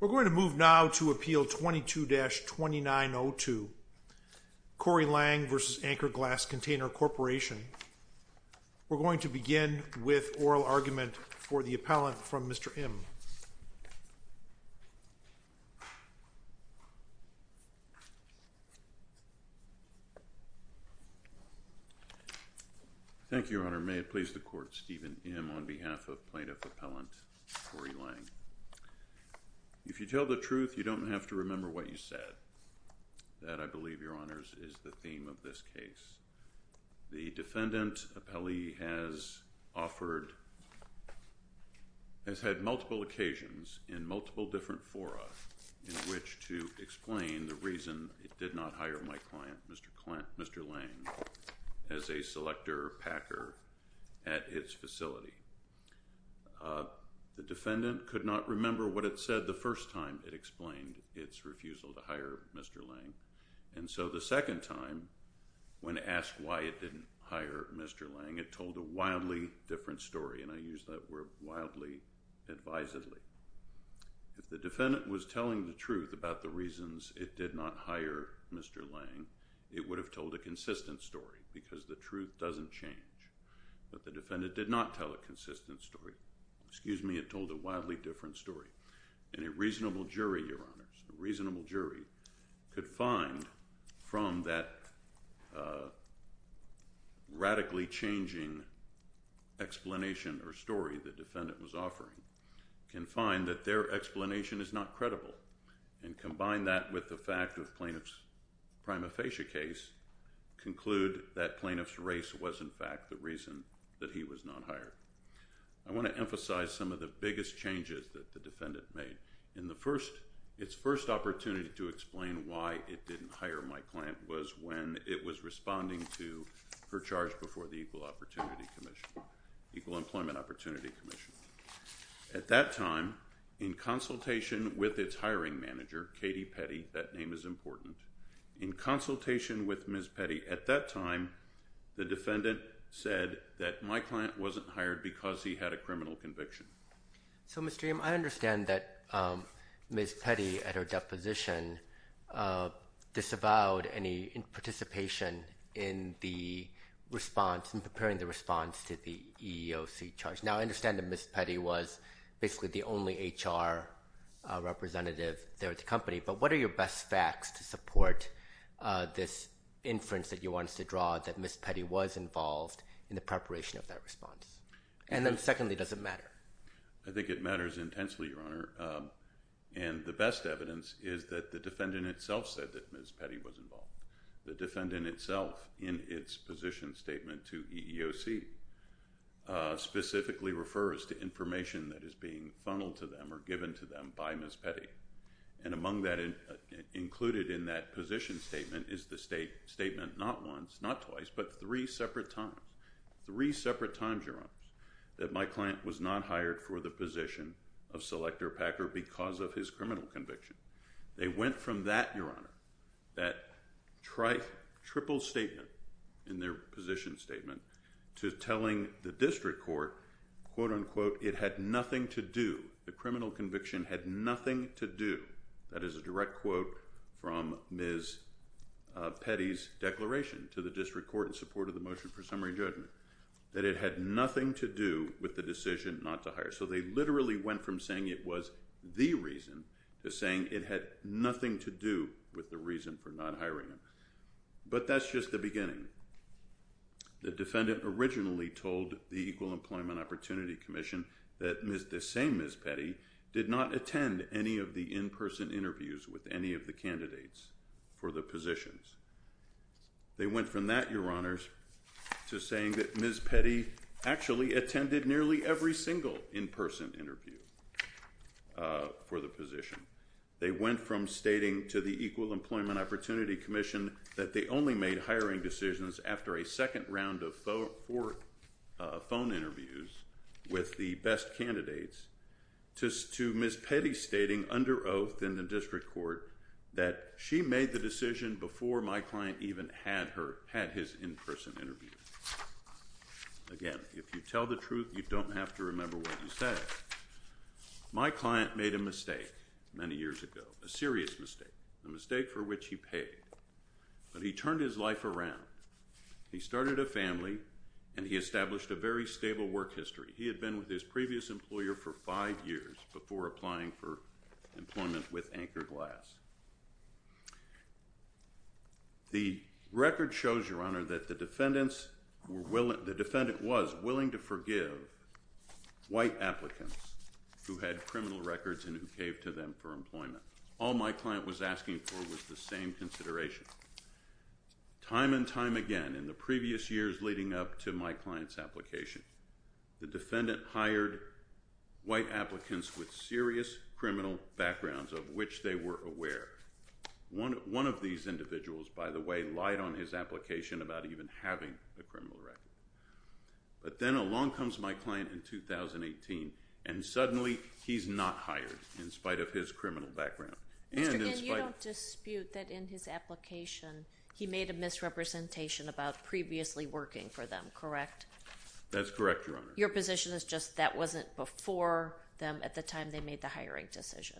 We're going to move now to Appeal 22-2902, Corey Lange v. Anchor Glass Container Corporation. We're going to begin with oral argument for the appellant from Mr. Im. Thank you, Your Honor. May it please the Court, Stephen Im on behalf of Plaintiff Appellant Corey Lange. If you tell the truth, you don't have to remember what you said. That, I believe, Your Honors, is the theme of this case. The defendant appellee has had multiple occasions in multiple different fora in which to explain the reason it did not hire my client, Mr. Lange, as a selector packer at its facility. The defendant could not remember what it said the first time it explained its refusal to hire Mr. Lange. And so the second time, when asked why it didn't hire Mr. Lange, it told a wildly different story, and I use that word wildly advisedly. If the defendant was telling the truth about the reasons it did not hire Mr. Lange, it would have told a consistent story because the truth doesn't change. But the defendant did not tell a consistent story. Excuse me, it told a wildly different story. And a reasonable jury, Your Honors, a reasonable jury could find from that radically changing explanation or story the defendant was offering, can find that their explanation is not credible. And combine that with the fact of plaintiff's prima facie case, conclude that plaintiff's race was, in fact, the reason that he was not hired. I want to emphasize some of the biggest changes that the defendant made. In the first, its first opportunity to explain why it didn't hire my client was when it was responding to her charge before the Equal Opportunity Commission, Equal Employment Opportunity Commission. At that time, in consultation with its hiring manager, Katie Petty, that name is important. In consultation with Ms. Petty at that time, the defendant said that my client wasn't hired because he had a criminal conviction. So, Mr. Eames, I understand that Ms. Petty, at her deposition, disavowed any participation in the response, in preparing the response to the EEOC charge. Now, I understand that Ms. Petty was basically the only HR representative there at the company. But what are your best facts to support this inference that you want us to draw that Ms. Petty was involved in the preparation of that response? And then secondly, does it matter? I think it matters intensely, Your Honor. And the best evidence is that the defendant itself said that Ms. Petty was involved. The defendant itself, in its position statement to EEOC, specifically refers to information that is being funneled to them or given to them by Ms. Petty. And among that included in that position statement is the statement not once, not twice, but three separate times. Three separate times, Your Honor, that my client was not hired for the position of selector packer because of his criminal conviction. They went from that, Your Honor, that triple statement in their position statement to telling the district court, quote unquote, it had nothing to do. The criminal conviction had nothing to do. That is a direct quote from Ms. Petty's declaration to the district court in support of the motion for summary judgment, that it had nothing to do with the decision not to hire. So they literally went from saying it was the reason to saying it had nothing to do with the reason for not hiring him. But that's just the beginning. The defendant originally told the Equal Employment Opportunity Commission that the same Ms. Petty did not attend any of the in-person interviews with any of the candidates for the positions. They went from that, Your Honors, to saying that Ms. Petty actually attended nearly every single in-person interview for the position. They went from stating to the Equal Employment Opportunity Commission that they only made hiring decisions after a second round of phone interviews with the best candidates, to Ms. Petty stating under oath in the district court that she made the decision before my client even had his in-person interview. Again, if you tell the truth, you don't have to remember what you said. My client made a mistake many years ago, a serious mistake, a mistake for which he paid. But he turned his life around. He started a family, and he established a very stable work history. He had been with his previous employer for five years before applying for employment with Anchor Glass. The record shows, Your Honor, that the defendant was willing to forgive white applicants who had criminal records and who gave to them for employment. All my client was asking for was the same consideration. Time and time again in the previous years leading up to my client's application, the defendant hired white applicants with serious criminal backgrounds of which they were aware. One of these individuals, by the way, lied on his application about even having a criminal record. But then along comes my client in 2018, and suddenly he's not hired in spite of his criminal background. Mr. Ginn, you don't dispute that in his application he made a misrepresentation about previously working for them, correct? That's correct, Your Honor. Your position is just that wasn't before them at the time they made the hiring decision?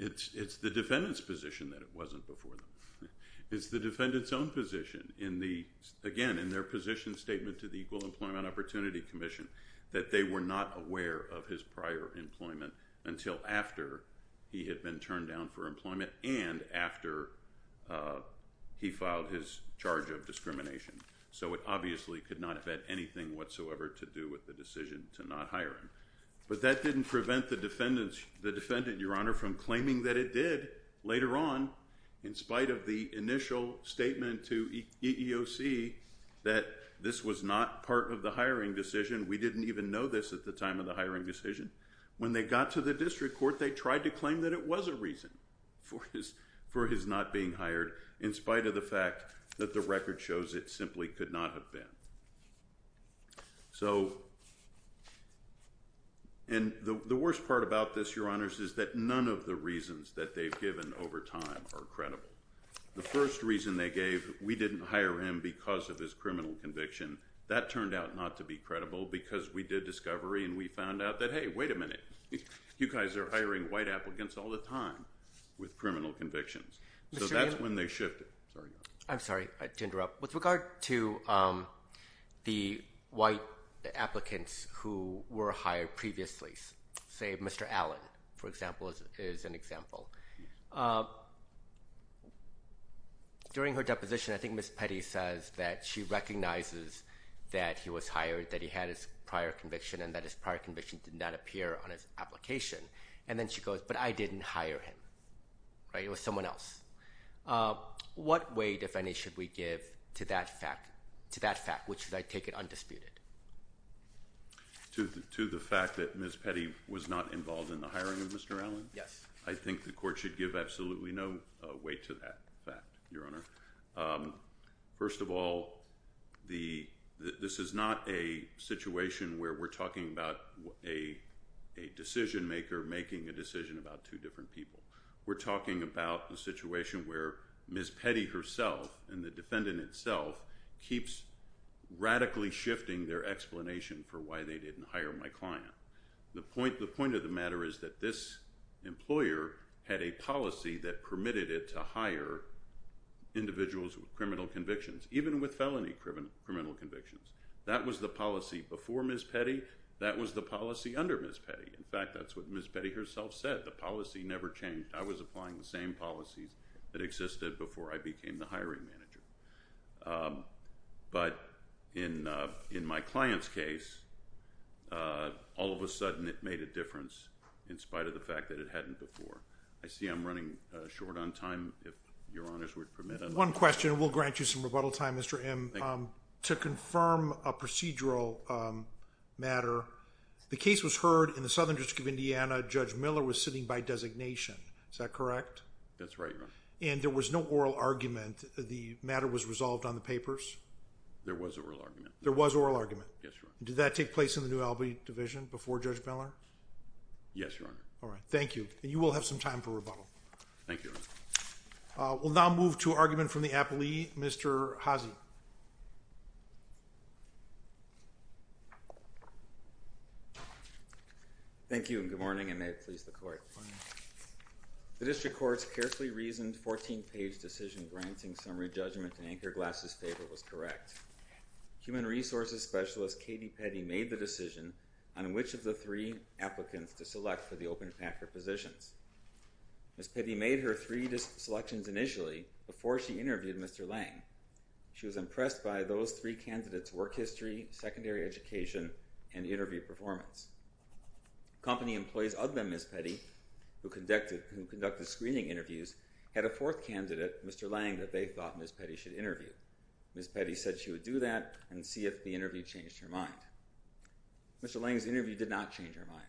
It's the defendant's position that it wasn't before them. It's the defendant's own position in the, again, in their position statement to the Equal Employment Opportunity Commission, that they were not aware of his prior employment until after he had been turned down for employment and after he filed his charge of discrimination. So it obviously could not have had anything whatsoever to do with the decision to not hire him. But that didn't prevent the defendant, Your Honor, from claiming that it did later on in spite of the initial statement to EEOC that this was not part of the hiring decision. We didn't even know this at the time of the hiring decision. When they got to the district court, they tried to claim that it was a reason for his not being hired in spite of the fact that the record shows it simply could not have been. So, and the worst part about this, Your Honors, is that none of the reasons that they've given over time are credible. The first reason they gave, we didn't hire him because of his criminal conviction. That turned out not to be credible because we did discovery and we found out that, hey, wait a minute, you guys are hiring white applicants all the time with criminal convictions. So that's when they shifted. I'm sorry to interrupt. With regard to the white applicants who were hired previously, say Mr. Allen, for example, is an example. During her deposition, I think Ms. Petty says that she recognizes that he was hired, that he had his prior conviction, and that his prior conviction did not appear on his application. And then she goes, but I didn't hire him. It was someone else. What weight, if any, should we give to that fact, which I take it undisputed? To the fact that Ms. Petty was not involved in the hiring of Mr. Allen? Yes. I think the court should give absolutely no weight to that fact, Your Honor. First of all, this is not a situation where we're talking about a decision maker making a decision about two different people. We're talking about the situation where Ms. Petty herself and the defendant itself keeps radically shifting their explanation for why they didn't hire my client. The point of the matter is that this employer had a policy that permitted it to hire individuals with criminal convictions, even with felony criminal convictions. That was the policy before Ms. Petty. That was the policy under Ms. Petty. In fact, that's what Ms. Petty herself said. The policy never changed. I was applying the same policies that existed before I became the hiring manager. But in my client's case, all of a sudden it made a difference in spite of the fact that it hadn't before. I see I'm running short on time. If Your Honor's would permit, I'd like to… One question, and we'll grant you some rebuttal time, Mr. M. Thank you. To confirm a procedural matter, the case was heard in the Southern District of Indiana. Judge Miller was sitting by designation. Is that correct? That's right, Your Honor. And there was no oral argument? The matter was resolved on the papers? There was an oral argument. There was an oral argument? Yes, Your Honor. Did that take place in the New Albany Division before Judge Miller? Yes, Your Honor. All right. Thank you. And you will have some time for rebuttal. Thank you, Your Honor. We'll now move to an argument from the appellee, Mr. Haase. Thank you, and good morning, and may it please the Court. Good morning. The District Court's carefully reasoned 14-page decision granting summary judgment in Anchor Glass's paper was correct. Human Resources Specialist Katie Petty made the decision on which of the three applicants to select for the open packer positions. Ms. Petty made her three selections initially before she interviewed Mr. Lange. She was impressed by those three candidates' work history, secondary education, and interview performance. Company employees other than Ms. Petty, who conducted screening interviews, had a fourth candidate, Mr. Lange, that they thought Ms. Petty should interview. Ms. Petty said she would do that and see if the interview changed her mind. Mr. Lange's interview did not change her mind.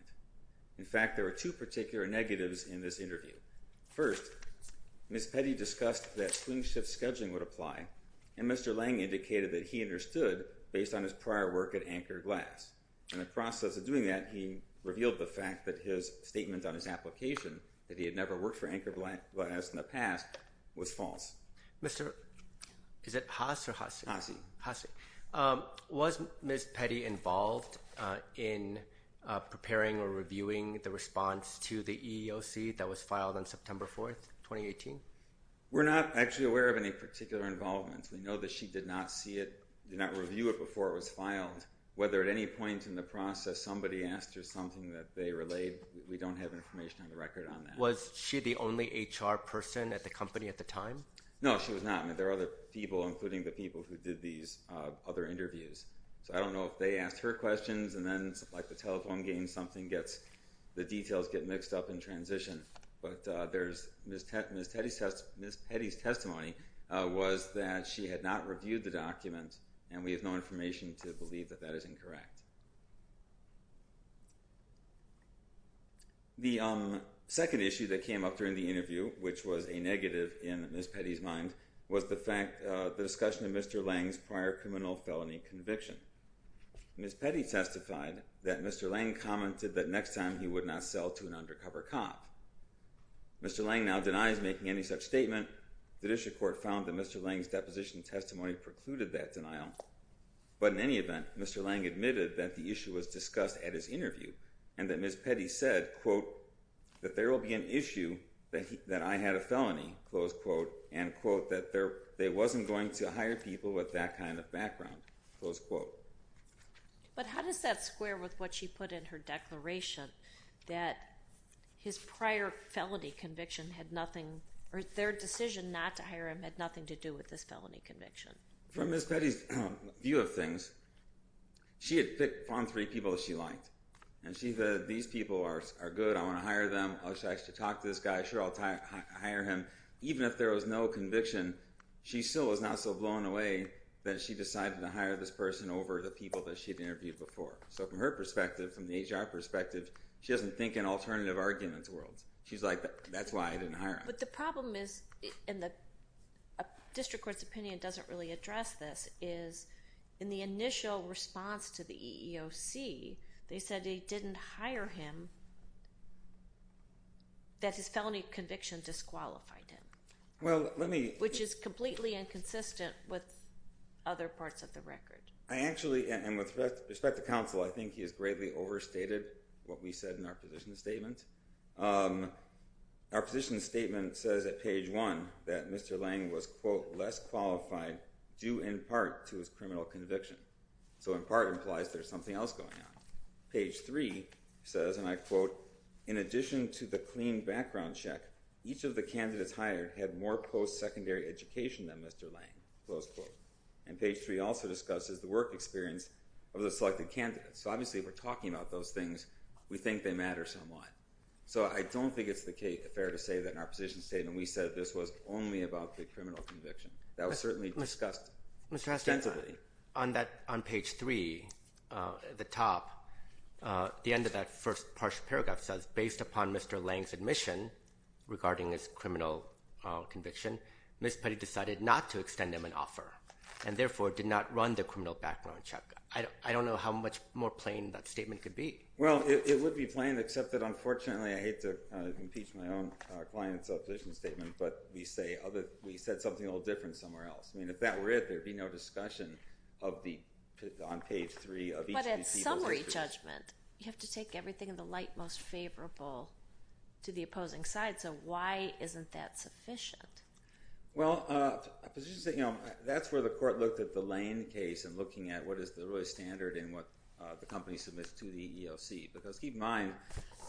In fact, there were two particular negatives in this interview. First, Ms. Petty discussed that swing shift scheduling would apply, and Mr. Lange indicated that he understood based on his prior work at Anchor Glass. In the process of doing that, he revealed the fact that his statement on his application, that he had never worked for Anchor Glass in the past, was false. Is it Haas or Hassi? Hassi. Hassi. Was Ms. Petty involved in preparing or reviewing the response to the EEOC that was filed on September 4, 2018? We're not actually aware of any particular involvement. We know that she did not see it, did not review it before it was filed, whether at any point in the process somebody asked her something that they relayed. We don't have information on the record on that. Was she the only HR person at the company at the time? No, she was not. There were other people, including the people who did these other interviews. So I don't know if they asked her questions, and then like the telephone game, the details get mixed up in transition. And we have no information to believe that that is incorrect. The second issue that came up during the interview, which was a negative in Ms. Petty's mind, was the discussion of Mr. Lange's prior criminal felony conviction. Ms. Petty testified that Mr. Lange commented that next time he would not sell to an undercover cop. Mr. Lange now denies making any such statement. The district court found that Mr. Lange's deposition testimony precluded that denial. But in any event, Mr. Lange admitted that the issue was discussed at his interview and that Ms. Petty said, quote, that there will be an issue that I had a felony, close quote, and, quote, that they wasn't going to hire people with that kind of background, close quote. But how does that square with what she put in her declaration, that his prior felony conviction had nothing, or their decision not to hire him had nothing to do with this felony conviction? From Ms. Petty's view of things, she had picked from three people that she liked, and she said, these people are good, I want to hire them, I should talk to this guy, sure, I'll hire him. Even if there was no conviction, she still was not so blown away that she decided to hire this person over the people that she had interviewed before. So from her perspective, from the HR perspective, she doesn't think in alternative arguments worlds. She's like, that's why I didn't hire him. But the problem is, and the district court's opinion doesn't really address this, is in the initial response to the EEOC, they said they didn't hire him, that his felony conviction disqualified him. Which is completely inconsistent with other parts of the record. I actually, and with respect to counsel, I think he has greatly overstated what we said in our position statement. Our position statement says at page one that Mr. Lange was, quote, less qualified due in part to his criminal conviction. So in part implies there's something else going on. Page three says, and I quote, in addition to the clean background check, each of the candidates hired had more post-secondary education than Mr. Lange, close quote. And page three also discusses the work experience of the selected candidates. So obviously if we're talking about those things, we think they matter somewhat. So I don't think it's fair to say that in our position statement we said this was only about the criminal conviction. That was certainly discussed extensively. Mr. Heston, on page three at the top, the end of that first partial paragraph says, based upon Mr. Lange's admission regarding his criminal conviction, Ms. Petty decided not to extend him an offer, and therefore did not run the criminal background check. I don't know how much more plain that statement could be. Well, it would be plain, except that unfortunately I hate to impeach my own client's position statement, but we said something a little different somewhere else. I mean, if that were it, there would be no discussion of the, on page three of each of these. But in summary judgment, you have to take everything in the light most favorable to the opposing side. So why isn't that sufficient? Well, that's where the court looked at the Lange case and looking at what is the real standard in what the company submits to the EEOC. Because keep in mind,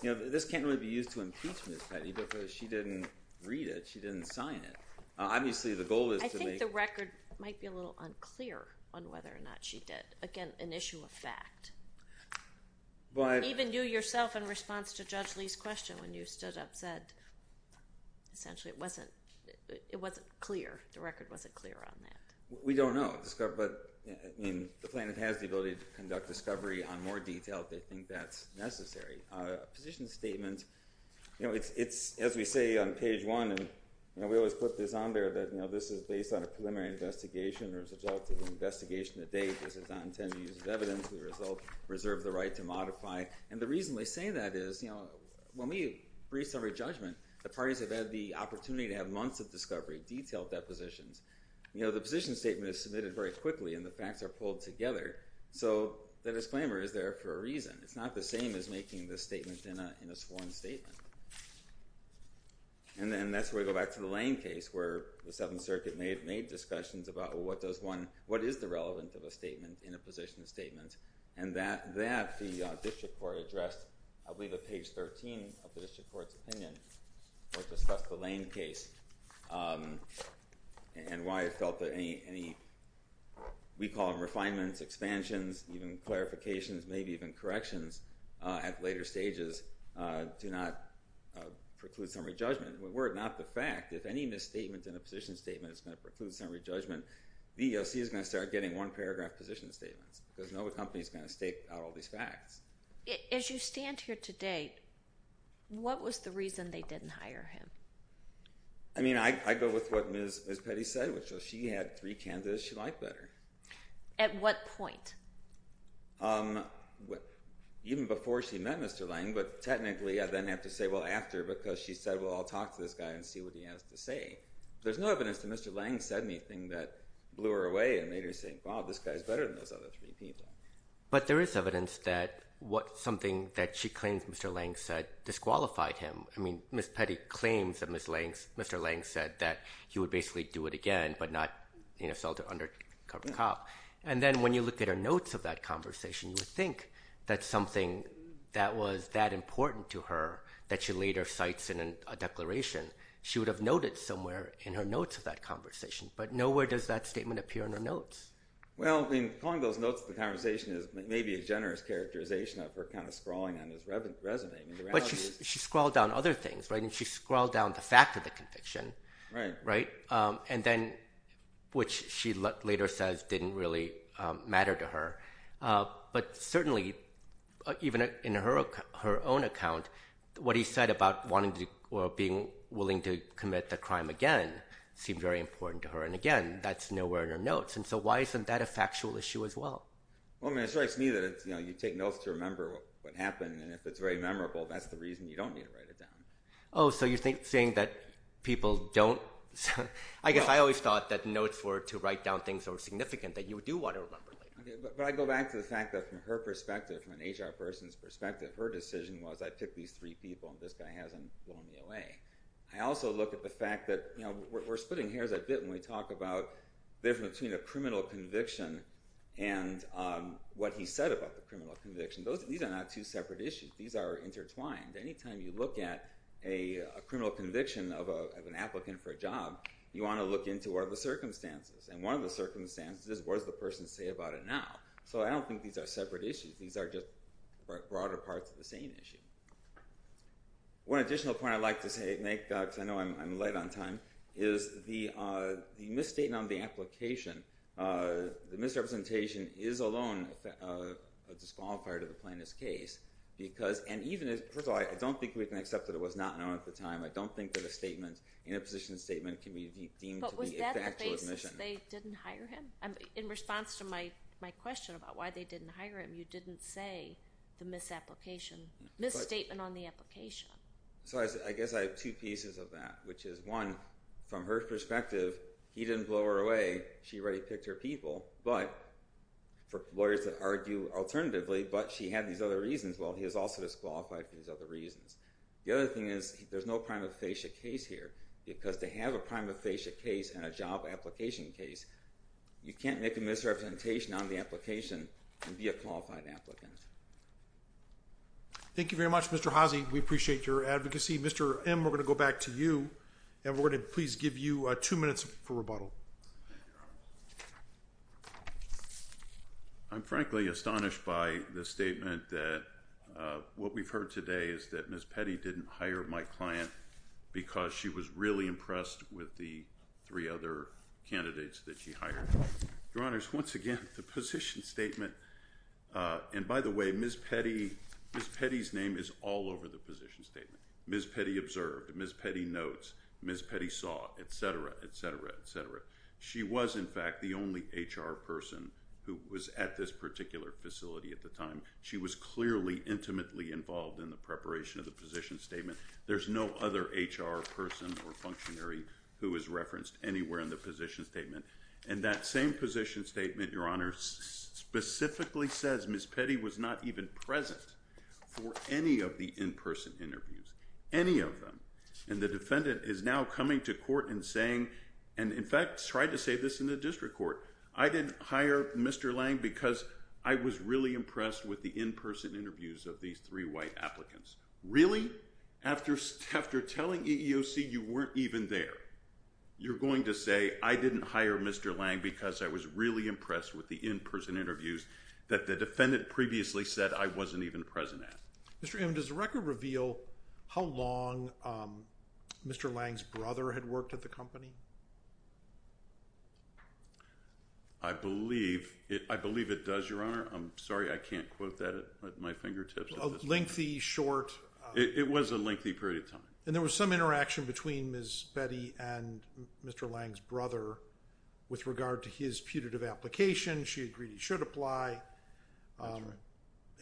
this can't really be used to impeach Ms. Petty because she didn't read it. She didn't sign it. Obviously the goal is to make. I think the record might be a little unclear on whether or not she did. Again, an issue of fact. Even you yourself in response to Judge Lee's question when you stood up said essentially it wasn't clear. The record wasn't clear on that. We don't know. But the plaintiff has the ability to conduct discovery on more detail if they think that's necessary. A position statement, as we say on page one, and we always put this on there, that this is based on a preliminary investigation or is a result of an investigation to date. This is not intended to be used as evidence. The result reserves the right to modify. And the reason we say that is when we brief summary judgment, the parties have had the opportunity to have months of discovery, detailed depositions. The position statement is submitted very quickly and the facts are pulled together. So the disclaimer is there for a reason. It's not the same as making the statement in a sworn statement. And that's where we go back to the Lane case where the Seventh Circuit made discussions about what does one, what is the relevance of a statement in a position statement, and that the district court addressed I believe at page 13 of the district court's opinion that discussed the Lane case and why it felt that any, we call them refinements, expansions, even clarifications, maybe even corrections at later stages do not preclude summary judgment. Were it not the fact, if any misstatement in a position statement is going to preclude summary judgment, the EEOC is going to start getting one paragraph position statements because no company is going to stake out all these facts. As you stand here today, what was the reason they didn't hire him? I mean, I go with what Ms. Petty said, which was she had three candidates she liked better. At what point? Even before she met Mr. Lane, but technically I then have to say, well, after, because she said, well, I'll talk to this guy and see what he has to say. There's no evidence that Mr. Lane said anything that blew her away and made her think, wow, this guy's better than those other three people. But there is evidence that something that she claims Mr. Lane said disqualified him. I mean, Ms. Petty claims that Mr. Lane said that he would basically do it again, but not insult an undercover cop. And then when you look at her notes of that conversation, you would think that something that was that important to her that she later cites in a declaration, she would have noted somewhere in her notes of that conversation. But nowhere does that statement appear in her notes. Well, I mean, calling those notes of the conversation is maybe a generous characterization of her kind of scrawling on his resume. But she scrawled down other things, right? And she scrawled down the fact of the conviction. Right. And then, which she later says didn't really matter to her. But certainly, even in her own account, what he said about wanting or being willing to commit the crime again seemed very important to her. And again, that's nowhere in her notes. And so why isn't that a factual issue as well? Well, I mean, it strikes me that you take notes to remember what happened, and if it's very memorable, that's the reason you don't need to write it down. Oh, so you're saying that people don't – I guess I always thought that notes were to write down things that were significant that you do want to remember later. But I go back to the fact that from her perspective, from an HR person's perspective, her decision was I picked these three people, and this guy hasn't blown me away. I also look at the fact that we're splitting hairs a bit when we talk about the difference between a criminal conviction and what he said about the criminal conviction. These are not two separate issues. These are intertwined. Anytime you look at a criminal conviction of an applicant for a job, you want to look into what are the circumstances. And one of the circumstances is what does the person say about it now? So I don't think these are separate issues. These are just broader parts of the same issue. One additional point I'd like to make, because I know I'm late on time, is the misstatement on the application, the misrepresentation is alone a disqualifier to the plaintiff's case because – first of all, I don't think we can accept that it was not known at the time. I don't think that a statement, a position statement can be deemed to be the actual admission. But was that the basis they didn't hire him? In response to my question about why they didn't hire him, you didn't say the misapplication, misstatement on the application. So I guess I have two pieces of that, which is, one, from her perspective, he didn't blow her away. She already picked her people. But for lawyers that argue alternatively, but she had these other reasons, well, he was also disqualified for these other reasons. The other thing is, there's no prima facie case here, because to have a prima facie case and a job application case, you can't make a misrepresentation on the application and be a qualified applicant. Thank you very much, Mr. Haase. We appreciate your advocacy. Mr. M., we're going to go back to you, and we're going to please give you two minutes for rebuttal. I'm frankly astonished by the statement that what we've heard today is that Ms. Petty didn't hire my client because she was really impressed with the three other candidates that she hired. Your Honors, once again, the position statement, and by the way, Ms. Petty's name is all over the position statement. Ms. Petty observed, Ms. Petty notes, Ms. Petty saw, et cetera, et cetera, et cetera. She was, in fact, the only HR person who was at this particular facility at the time. She was clearly intimately involved in the preparation of the position statement. There's no other HR person or functionary who is referenced anywhere in the position statement. And that same position statement, Your Honors, specifically says Ms. Petty was not even present for any of the in-person interviews, any of them. And the defendant is now coming to court and saying, and in fact, tried to say this in the district court, I didn't hire Mr. Lang because I was really impressed with the in-person interviews of these three white applicants. Really? After telling EEOC you weren't even there, you're going to say, I didn't hire Mr. Lang because I was really impressed with the in-person interviews that the defendant previously said I wasn't even present at. Mr. Inman, does the record reveal how long Mr. Lang's brother had worked at the company? I believe it does, Your Honor. I'm sorry, I can't quote that at my fingertips. It was a lengthy period of time. And there was some interaction between Ms. Petty and Mr. Lang's brother with regard to his putative application. She agreed he should apply.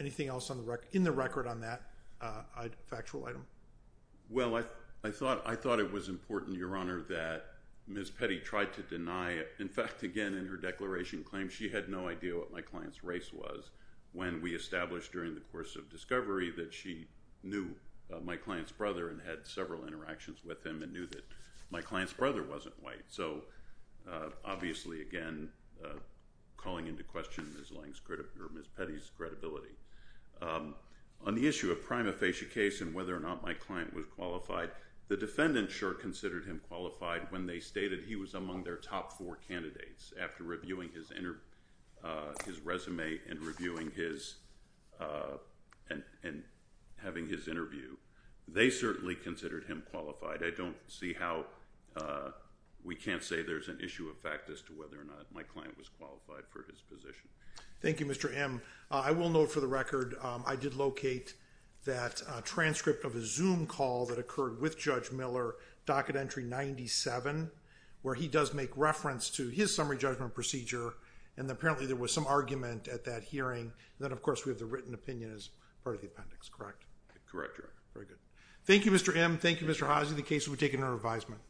Anything else in the record on that factual item? Well, I thought it was important, Your Honor, that Ms. Petty tried to deny it. In fact, again, in her declaration claim, she had no idea what my client's race was when we established during the course of discovery that she knew my client's brother and had several interactions with him and knew that my client's brother wasn't white. So obviously, again, calling into question Ms. Petty's credibility. On the issue of prima facie case and whether or not my client was qualified, the defendant sure considered him qualified when they stated he was among their top four candidates. After reviewing his resume and having his interview, they certainly considered him qualified. I don't see how we can't say there's an issue of fact as to whether or not my client was qualified for his position. Thank you, Mr. M. I will note, for the record, I did locate that transcript of a Zoom call that occurred with Judge Miller, docket entry 97, where he does make reference to his summary judgment procedure, and apparently there was some argument at that hearing. And then, of course, we have the written opinion as part of the appendix, correct? Correct, Your Honor. Very good. Thank you, Mr. M. Thank you, Mr. Haase. The case will be taken under revisement.